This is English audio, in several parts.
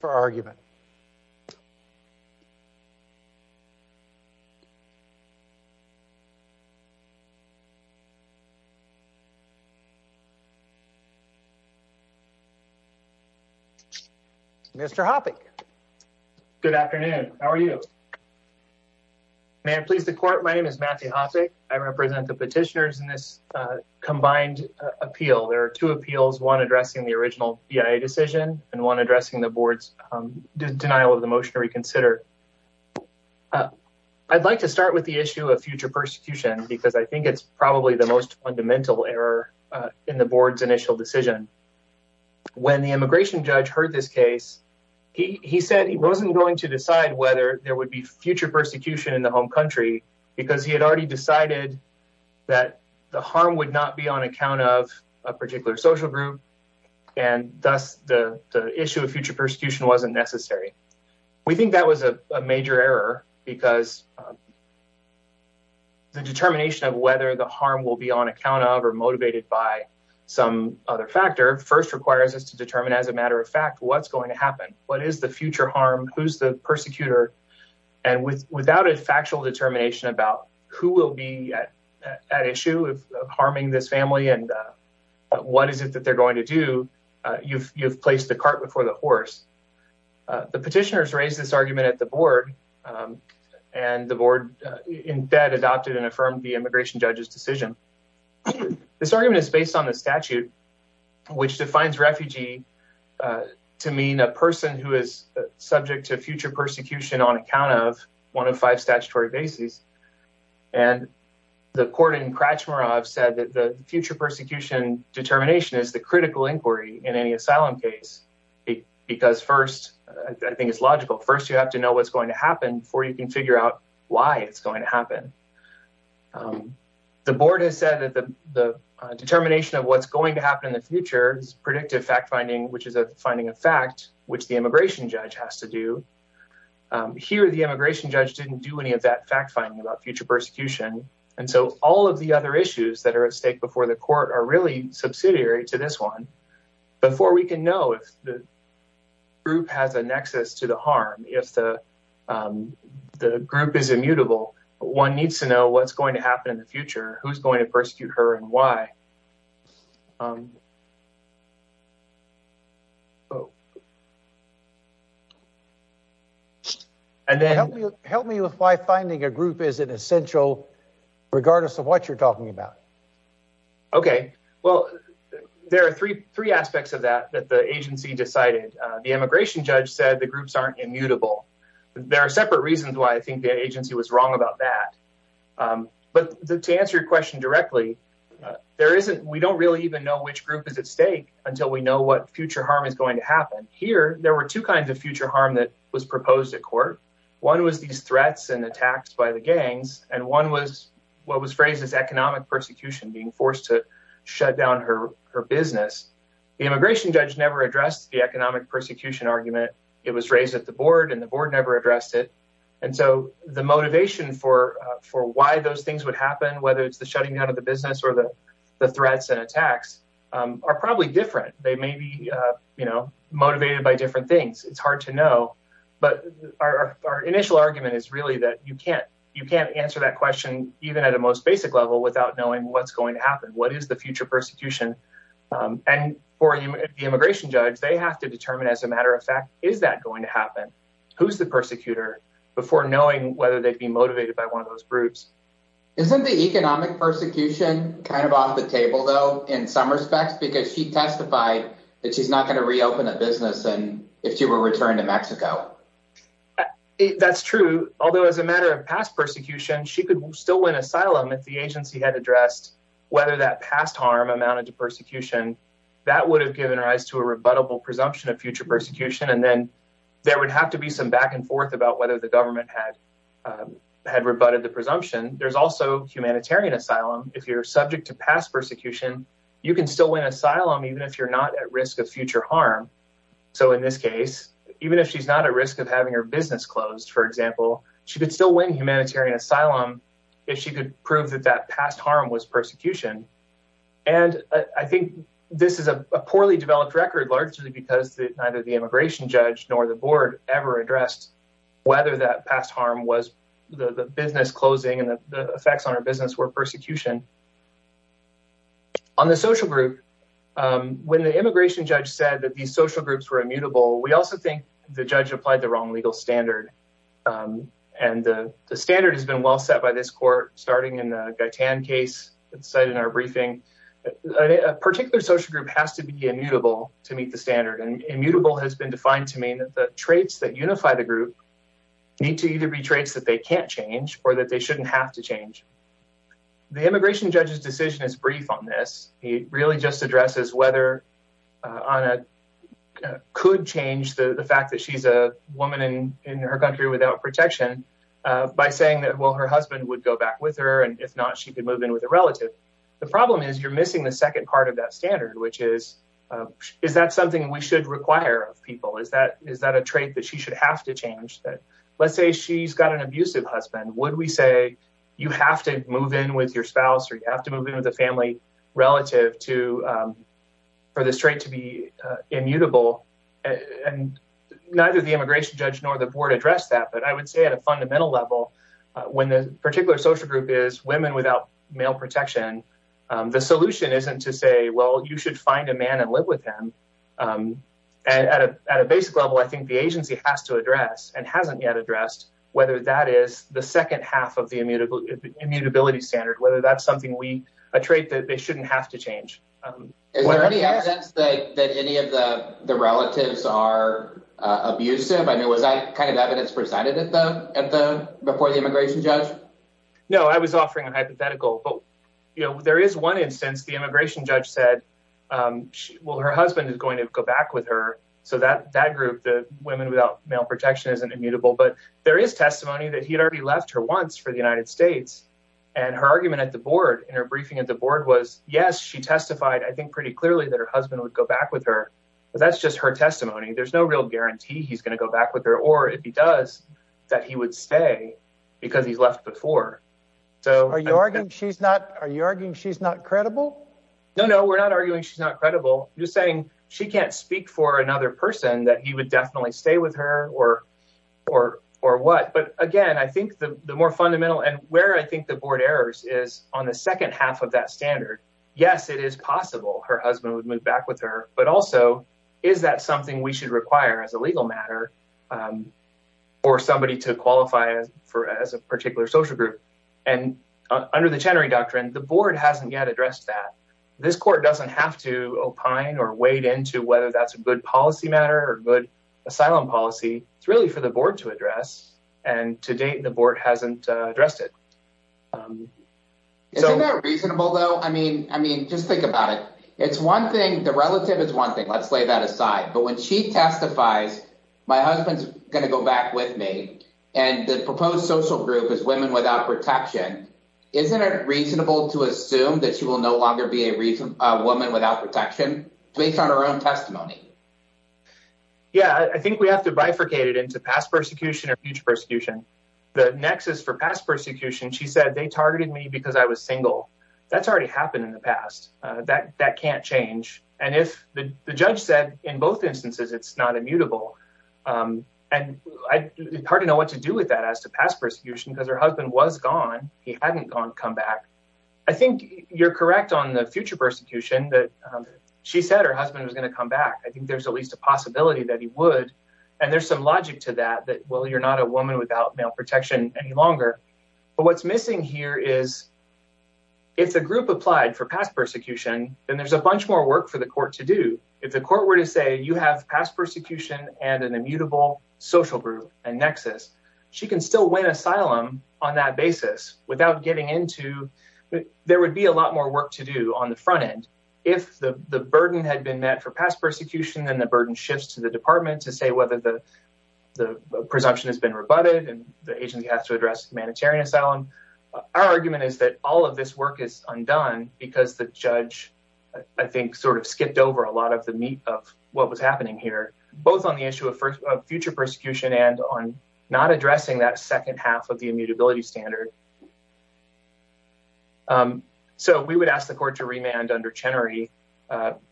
for argument. Mr. Hoppe. Good afternoon. How are you? May I please the court? My name is Matthew Hoppe. I represent the petitioners in this combined appeal. There are two appeals, one addressing the original BIA decision and one addressing the board's denial of the motion to reconsider. I'd like to start with the issue of future persecution because I think it's probably the most fundamental error in the board's initial decision. When the immigration judge heard this case, he said he wasn't going to decide whether there would be future persecution in the home country because he had already decided that the harm would not be on account of a particular social group and thus the issue of future persecution wasn't necessary. We think that was a major error because the determination of whether the harm will be on account of or motivated by some other factor first requires us to determine as a matter of fact what's going to happen. What is the future harm? Who's the persecutor? And without a factual determination about who will be at issue of harming this family and what is it that they're going to do, you've placed the cart before the horse. The petitioners raised this argument at the board and the board in bed adopted and affirmed the immigration judge's decision. This argument is based on the statute which defines refugee to mean a person who is subject to future persecution on account of one of five statutory bases. And the court in Krachmarov said that the future persecution determination is the critical inquiry in any asylum case because first I think it's logical. First you have to know what's going to happen before you can figure out why it's going to happen. The board has said that the determination of what's going to happen in the future is predictive fact finding which is a finding of fact which the immigration judge has to do. Here the immigration judge didn't do any of that fact finding about future persecution. And so all of the other issues that are at stake before the court are really subsidiary to this one. Before we can know if the group has a nexus to the harm, if the group is immutable, one needs to know what's going to happen in the future. Help me with why finding a group is an essential regardless of what you're talking about. Okay. Well, there are three aspects of that that the agency decided. The immigration judge said the groups aren't immutable. There are separate reasons why I think the agency was wrong about that. But to answer your question directly, we don't really even know which group is at stake until we know what future harm is going to happen. Here there were two kinds of future harm that was proposed at court. One was these threats and attacks by the gangs. And one was what was phrased as economic persecution, being forced to shut down her business. The immigration judge never addressed the economic persecution argument. It was raised at the board and the board never addressed it. And so the motivation for why those things would happen, whether it's the shutting down of the business or the threats and attacks, are probably different. They may be motivated by different things. It's hard to know. But our initial argument is really that you can't answer that question even at a most basic level without knowing what's going to happen. What is the future persecution? And for the immigration judge, they have to determine as a matter of fact, is that going to happen? Who's the persecutor? Before knowing whether they'd be motivated by one of those groups, isn't the economic persecution kind of off the table, though, in some respects, because she testified that she's not going to reopen a business. And if she were returned to Mexico, that's true. Although as a matter of past persecution, she could still win asylum if the agency had addressed whether that past harm amounted to persecution that would have given rise to a rebuttable presumption of future persecution. And then there would have to be some back and forth about whether the government had rebutted the presumption. There's also humanitarian asylum. If you're subject to past persecution, you can still win asylum even if you're not at risk of future harm. So in this case, even if she's not at risk of having her business closed, for example, she could still win humanitarian asylum if she could prove that that past harm was persecution. And I think this is a poorly developed record largely because neither the immigration judge nor the business closing and the effects on her business were persecution. On the social group, when the immigration judge said that these social groups were immutable, we also think the judge applied the wrong legal standard. And the standard has been well set by this court starting in the Gaitan case that's cited in our briefing. A particular social group has to be immutable to meet the standard. And immutable has been defined to mean that the traits that unify the people are traits that they can't change or that they shouldn't have to change. The immigration judge's decision is brief on this. He really just addresses whether Ana could change the fact that she's a woman in her country without protection by saying that, well, her husband would go back with her, and if not, she could move in with a relative. The problem is you're missing the second part of that standard, which is, is that something we should require of people? Is that a trait that she should have to change? Let's say she's got an abusive husband. Would we say you have to move in with your spouse or you have to move in with a family relative for this trait to be immutable? And neither the immigration judge nor the board addressed that. But I would say at a fundamental level, when the particular social group is women without male protection, the solution isn't to say, well, you should find a man and live with him. And at a basic level, I think the agency has to address and hasn't yet addressed whether that is the second half of the immutability standard, whether that's something we, a trait that they shouldn't have to change. Is there any evidence that any of the relatives are abusive? I mean, was that kind of evidence presented at the, before the immigration judge? No, I was offering a hypothetical. But, you know, there is one instance the immigration judge said, well, her husband is going to go back with her. So that group, the women without male protection, isn't immutable. But there is testimony that he had already left her once for the United States. And her argument at the board in her briefing at the board was, yes, she testified, I think, pretty clearly that her husband would go back with her. But that's just her testimony. There's no real guarantee he's going to go back with her. Or if he does, that he would stay because he's left before. So are you arguing she's not, are you arguing she's not credible? No, no, we're not arguing she's not credible. You're saying she can't speak for another person that he would definitely stay with her or, or, or what? But again, I think the more fundamental and where I think the board errors is on the second half of that standard. Yes, it is possible her husband would move back with her. But also, is that something we should require as a legal matter for somebody to qualify for as a particular social group? And under the Chenery Doctrine, the board hasn't yet addressed that. This court doesn't have to opine or wade into whether that's a good policy matter or good asylum policy. It's really for the board to address. And to date, the board hasn't addressed it. So reasonable, though, I mean, I mean, just think about it. It's one thing. The relative is one thing. Let's lay that aside. But when she testifies, my husband's going to go back with me. And the proposed social group is women without protection. Isn't it reasonable to assume that she will no longer be a reason a woman without protection based on her own testimony? Yeah, I think we have to bifurcate it into past persecution or future persecution. The nexus for past persecution, she said they targeted me because I was single. That's already happened in the past. That that can't change. And if the judge said in both instances, it's not to do with that as to past persecution because her husband was gone. He hadn't gone come back. I think you're correct on the future persecution that she said her husband was going to come back. I think there's at least a possibility that he would. And there's some logic to that, that, well, you're not a woman without male protection any longer. But what's missing here is if the group applied for past persecution, then there's a bunch more work for the court to do. If the court were to say, you have past persecution and an immutable social group and nexus, she can still win asylum on that basis without getting into, there would be a lot more work to do on the front end. If the burden had been met for past persecution, then the burden shifts to the department to say whether the presumption has been rebutted and the agent has to address humanitarian asylum. Our argument is that all of this work is undone because the judge, I think, sort of skipped over a lot of the meat of what was happening here, both on the issue of future persecution and on not addressing that second half of the immutability standard. So we would ask the court to remand under Chenery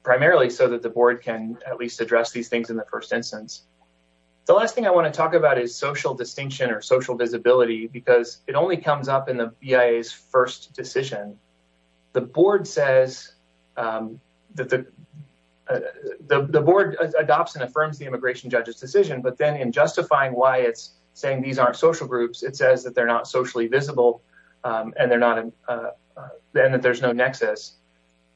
primarily so that the board can at least address these things in the first instance. The last thing I want to talk about is social distinction or social visibility because it only comes up in the BIA's first decision. The board says, the board adopts and affirms the immigration judge's decision, but then in justifying why it's saying these aren't social groups, it says that they're not socially visible and that there's no nexus.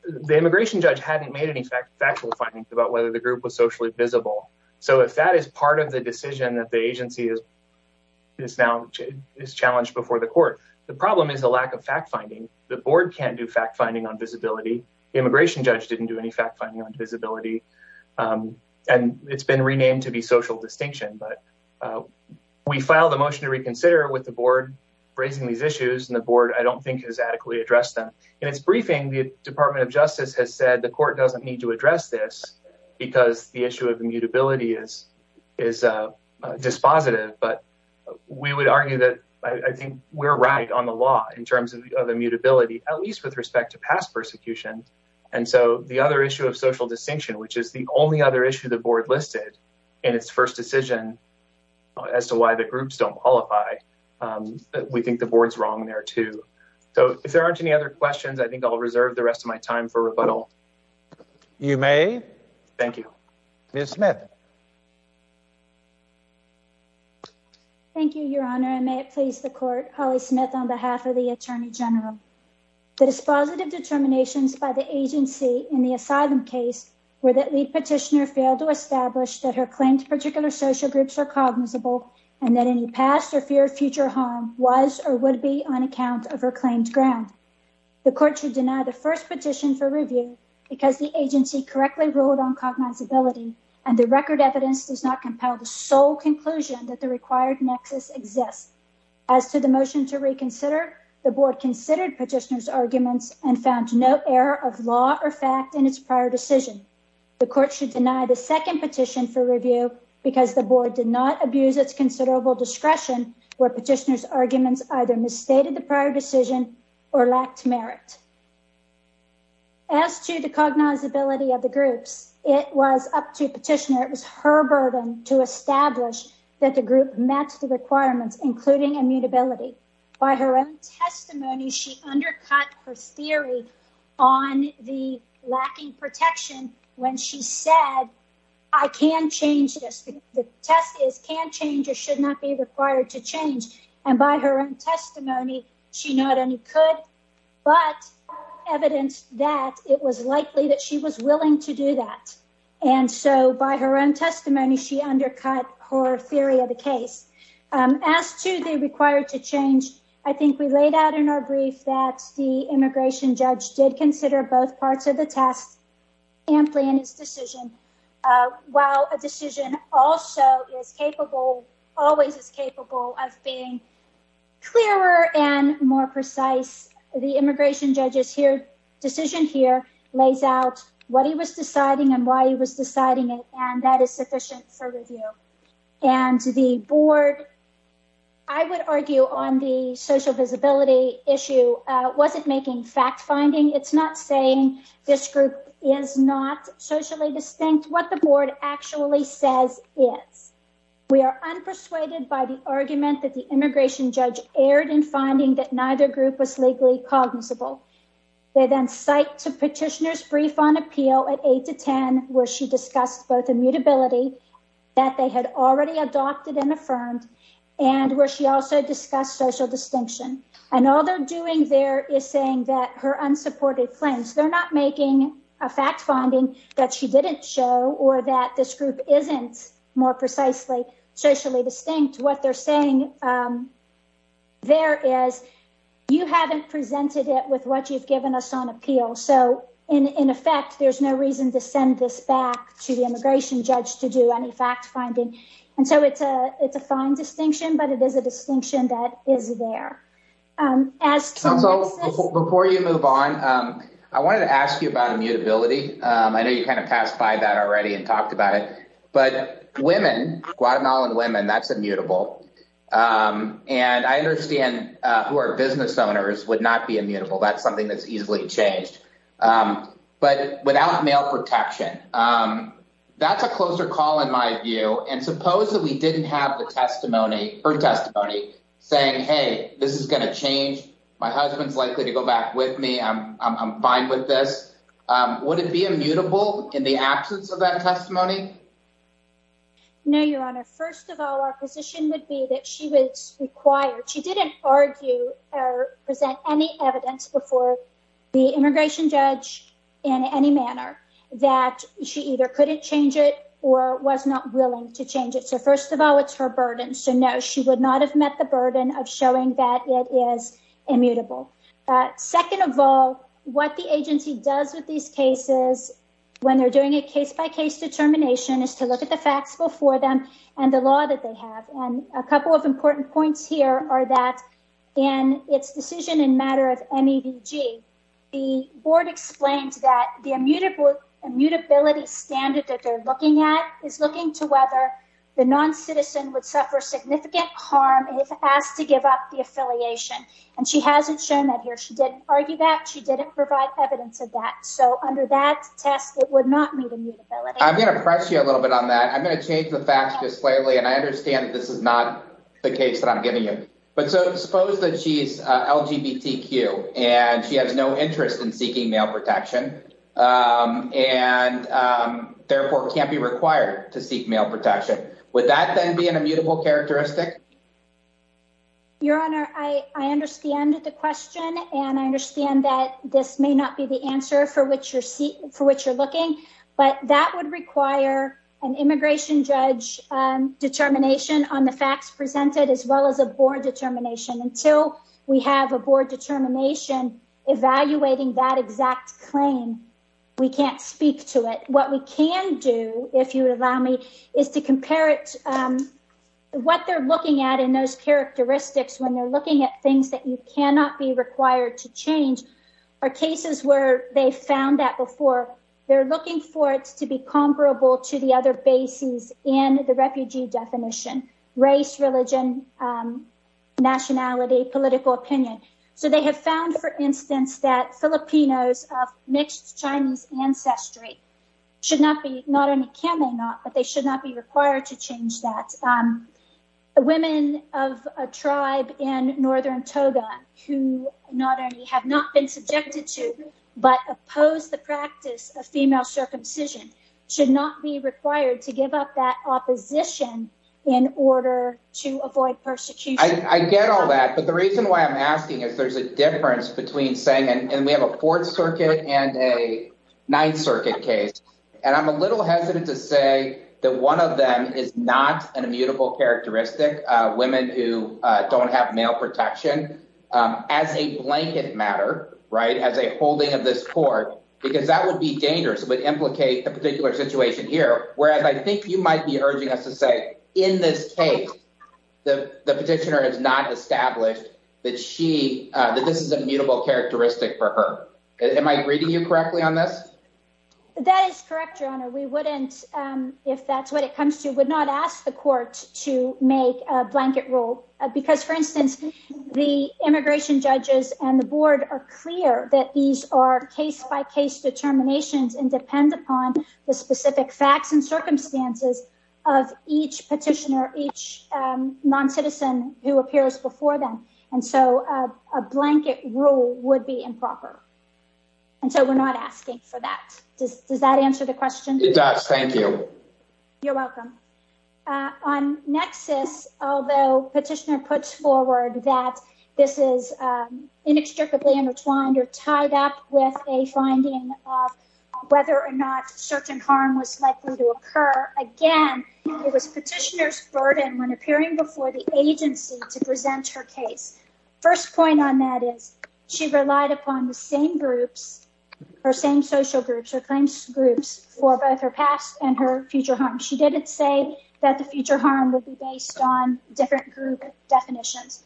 The immigration judge hadn't made any factual findings about whether the group was socially visible. So if that is part of the decision that agency is now challenged before the court, the problem is the lack of fact-finding. The board can't do fact-finding on visibility. The immigration judge didn't do any fact-finding on visibility. And it's been renamed to be social distinction. But we filed a motion to reconsider with the board raising these issues and the board, I don't think, has adequately addressed them. In its briefing, the Department of Justice has said the court doesn't need to address this because the issue of immutability is dispositive. But we would argue that I think we're right on the law in terms of immutability, at least with respect to past persecution. And so the other issue of social distinction, which is the only other issue the board listed in its first decision as to why the groups don't qualify, we think the board's wrong there too. So if there aren't any other questions, I think I'll reserve the rest of my time for rebuttal. You may. Thank you. Ms. Smith. Thank you, Your Honor, and may it please the court. Holly Smith on behalf of the Attorney General. The dispositive determinations by the agency in the asylum case were that the petitioner failed to establish that her claims to particular social groups are cognizable and that any past or future harm was or would be on account of her claims ground. The court should deny the first petition for review because the agency correctly ruled on cognizability and the record evidence does not compel the sole conclusion that the required nexus exists. As to the motion to reconsider, the board considered petitioner's arguments and found no error of law or fact in its prior decision. The court should deny the second petition for review because the board did not abuse its considerable discretion where petitioner's arguments either misstated the prior decision or lacked merit. As to the cognizability of the petitioner, it was her burden to establish that the group met the requirements, including immutability. By her own testimony, she undercut her theory on the lacking protection when she said I can't change this. The test is can't change or should not be required to change. And by her own testimony, she not only could, but evidence that it was likely that she was willing to do that. And so by her own testimony, she undercut her theory of the case. As to the required to change, I think we laid out in our brief that the immigration judge did consider both parts of the test and plan his decision. While a decision also is capable, always is capable of being clearer and more precise. The immigration judges here decision here lays out what he was deciding and why he was deciding it. And that is sufficient for review. And the board, I would argue on the social visibility issue, wasn't making fact finding. It's not saying this group is not socially distinct. What the board actually says is. We are unpersuaded by the argument that the immigration judge erred in finding that neither group was legally cognizable. They then cite to where she discussed both immutability that they had already adopted and affirmed, and where she also discussed social distinction. And all they're doing there is saying that her unsupported claims they're not making a fact finding that she didn't show or that this group isn't more precisely socially distinct. What they're saying there is you haven't presented it with what you've given us on appeal. So in effect, there's no reason to send this back to the immigration judge to do any fact finding. And so it's a fine distinction, but it is a distinction that is there. Before you move on, I wanted to ask you about immutability. I know you kind of passed by that already and talked about it, but women, Guatemalan women, that's immutable. And I understand who are business owners would not be immutable. That's something that's easily changed. But without male protection, that's a closer call in my view. And suppose that we didn't have the testimony, her testimony, saying, hey, this is going to change. My husband's likely to go back with me. I'm fine with this. Would it be immutable in the absence of that testimony? No, Your Honor. First of all, our position would be that she was required. She didn't argue or present any evidence before the immigration judge in any manner that she either couldn't change it or was not willing to change it. So first of all, it's her burden. So no, she would not have met the burden of showing that it is immutable. Second of all, what the agency does with these cases when they're doing a case-by-case determination is to look at the facts before them and the law that they have. And a couple of important points here are that in its decision in matter of MEDG, the board explains that the immutability standard that they're looking at is looking to whether the non-citizen would suffer significant harm if asked to give up the affiliation. And she hasn't shown that here. She didn't argue that. She didn't provide evidence of that. So under that test, it would not meet immutability. I'm going to press you a little bit on that. I'm going to change the facts just slightly. And I understand that this is not the case that I'm giving you. But suppose that she's LGBTQ and she has no interest in seeking male protection and therefore can't be required to seek male protection. Would that then be an immutable characteristic? Your Honor, I understand the question and I understand that this may not be the answer for which you're looking. But that would require an immigration judge determination on the facts presented as well as a board determination. Until we have a board determination evaluating that exact claim, we can't speak to it. What we can do, if you allow me, is to compare what they're looking at in those characteristics when they're looking at things that you cannot be required to change. There are cases where they found that before. They're looking for it to be comparable to the other bases in the refugee definition, race, religion, nationality, political opinion. So they have found, for instance, that Filipinos of mixed Chinese ancestry should not be, not only can they not, but they should not be required to change that. The women of a tribe in northern Toga, who not only have not been subjected to, but oppose the practice of female circumcision, should not be required to give up that opposition in order to avoid persecution. I get all that, but the reason why I'm asking is there's a difference between saying, and we have a Fourth Circuit and a Ninth Circuit case, and I'm a little hesitant to that one of them is not an immutable characteristic, women who don't have male protection, as a blanket matter, right, as a holding of this court, because that would be dangerous, would implicate a particular situation here, whereas I think you might be urging us to say, in this case, the petitioner has not established that she, that this is immutable characteristic for her. Am I reading you correctly on this? That is correct, your honor. We wouldn't, if that's what it comes to, would not ask the court to make a blanket rule, because, for instance, the immigration judges and the board are clear that these are case-by-case determinations and depend upon the specific facts and circumstances of each petitioner, each non-citizen who appears before them, and so a blanket rule would be improper, and so we're not asking for that. Does that answer the question? It does, thank you. You're welcome. On nexus, although petitioner puts forward that this is inextricably intertwined or tied up with a finding of whether or not certain harm was likely to occur, again, it was petitioner's burden when appearing before the court to present her case. First point on that is she relied upon the same groups, her same social groups, her claims groups, for both her past and her future harm. She didn't say that the future harm would be based on different group definitions.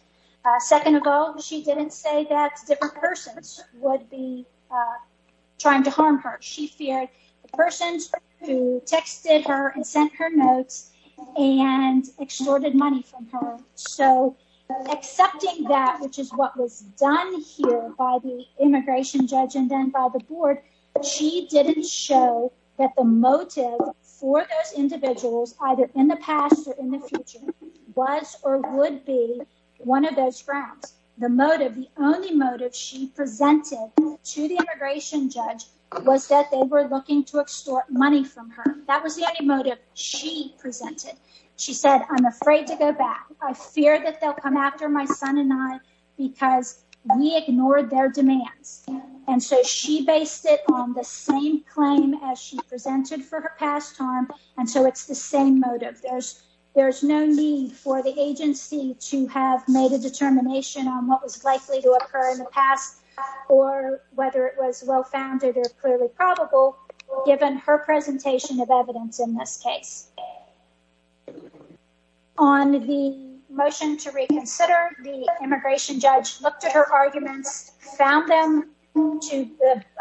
Second of all, she didn't say that different persons would be trying to harm her. She feared the persons who texted her and her notes and extorted money from her, so accepting that, which is what was done here by the immigration judge and then by the board, she didn't show that the motive for those individuals, either in the past or in the future, was or would be one of those grounds. The motive, the only motive she presented to the immigration judge was that they were looking to extort money from her. That was the only motive she presented. She said, I'm afraid to go back. I fear that they'll come after my son and I because we ignored their demands. And so she based it on the same claim as she presented for her past harm, and so it's the same motive. There's no need for the agency to have made a determination on what was likely to occur in the past or whether it was well-founded or clearly probable, given her presentation of evidence in this case. On the motion to reconsider, the immigration judge looked at her arguments, found them to,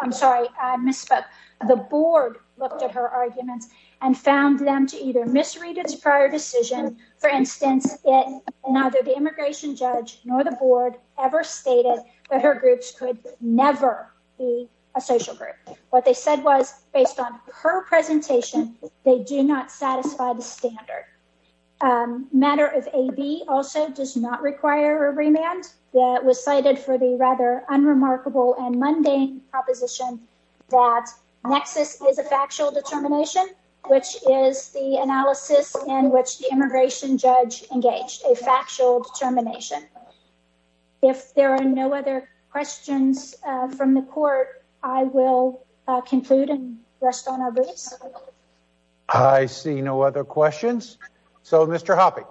I'm sorry, I misspoke. The board looked at her arguments and found them to either misread its prior decision, for instance, in neither the immigration judge nor the board ever stated that her groups could never be a social group. What they said was, based on her presentation, they do not satisfy the standard. Matter of AB also does not require a remand that was cited for the rather unremarkable and mundane proposition that nexus is a factual determination, which is the analysis in which the immigration judge engaged, a factual determination. If there are no other questions from the court, I will conclude and rest on our boots. I see no other questions. So, Mr. Hoppe.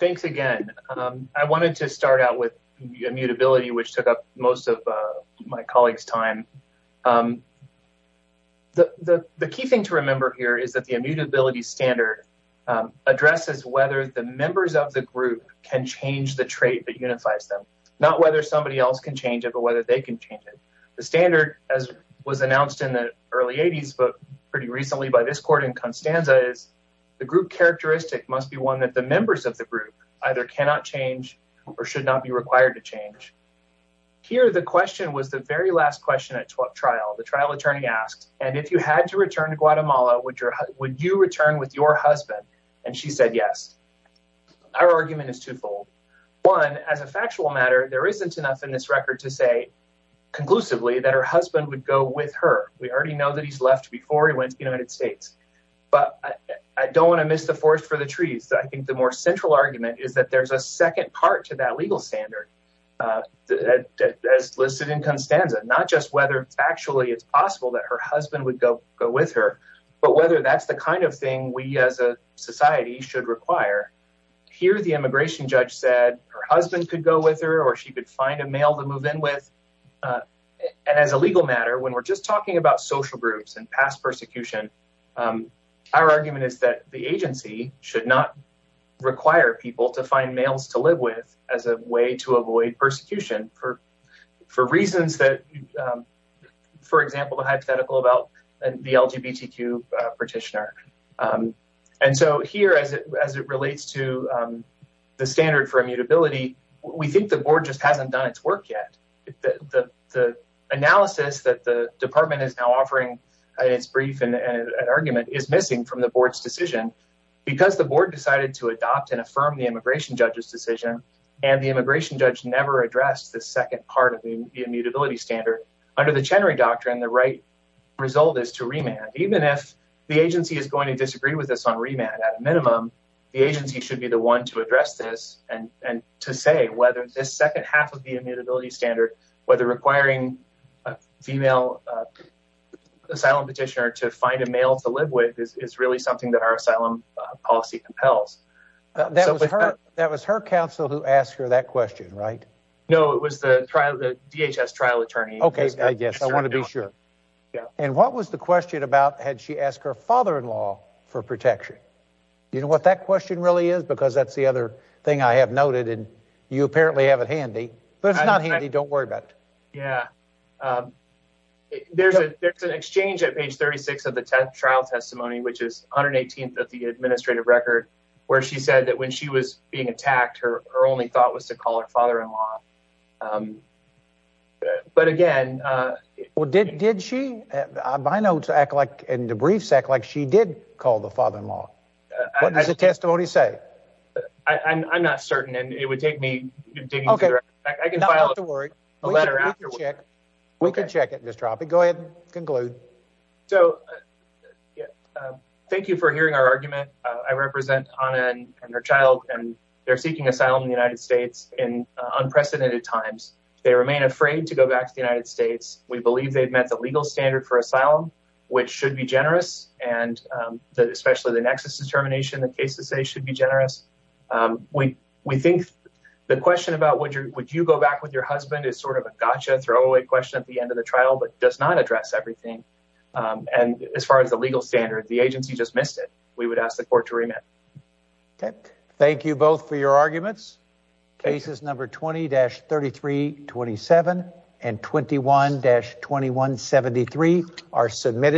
Thanks again. I wanted to start out with immutability, which took up most of my colleague's time. The key thing to remember here is that the immutability standard addresses whether the members of the group can change the trait that unifies them, not whether somebody else can change it, but whether they can change it. The standard, as was announced in the early 80s, but pretty recently by this court in Constanza, is the group characteristic must be one that the members of the group either cannot change or should not be required to change. Here, the question was the very last question at trial. The trial attorney asked, and if you had to return to Guatemala, would you return with your husband? And she said yes. Our argument is twofold. One, as a factual matter, there isn't enough in this record to say conclusively that her husband would go with her. We already know that he's left before he went to the United States. But I don't want to miss the forest for the trees. I think the more central argument is that there's a second part to that legal standard that's listed in Constanza, not just whether it's actually possible that her that's the kind of thing we as a society should require. Here, the immigration judge said her husband could go with her or she could find a male to move in with. And as a legal matter, when we're just talking about social groups and past persecution, our argument is that the agency should not require people to find males to live with as a way to avoid persecution for reasons that, for example, the hypothetical about the LGBTQ petitioner. And so here, as it relates to the standard for immutability, we think the board just hasn't done its work yet. The analysis that the department is now offering in its brief and argument is missing from the board's decision because the board decided to adopt and affirm the immigration judge's decision and the immigration judge never addressed the second part of the immutability standard. Under the Chenery Doctrine, the right result is to remand. Even if the agency is going to disagree with this on remand, at a minimum, the agency should be the one to address this and to say whether this second half of the immutability standard, whether requiring a female asylum petitioner to find a male to live with, is really something that our asylum policy compels. That was her counsel who asked her that question, right? No, it was the DHS trial attorney. Okay, yes, I want to be sure. And what was the question about, had she asked her father-in-law for protection? You know what that question really is? Because that's the other thing I have noted and you apparently have it handy, but it's not handy, don't worry about it. Yeah, there's an exchange at page 36 of the trial testimony, which is 118th of the she said that when she was being attacked, her only thought was to call her father-in-law. But again... Well, did she? My notes act like, in the briefs, act like she did call the father-in-law. What does the testimony say? I'm not certain and it would take me digging through the records. Okay, not to worry, we can check it, Mr. Oppie. Go ahead, conclude. So, thank you for hearing our argument. I represent Anna and her child and they're seeking asylum in the United States in unprecedented times. They remain afraid to go back to the United States. We believe they've met the legal standard for asylum, which should be generous and especially the nexus determination, the cases say should be generous. We think the question about would you go back with your husband is sort of a gotcha throwaway question at the end of the trial, but does not address everything. And as far as the legal standard, the agency just missed it. We would ask the court to remit. Thank you both for your arguments. Cases number 20-3327 and 21-2173 are submitted.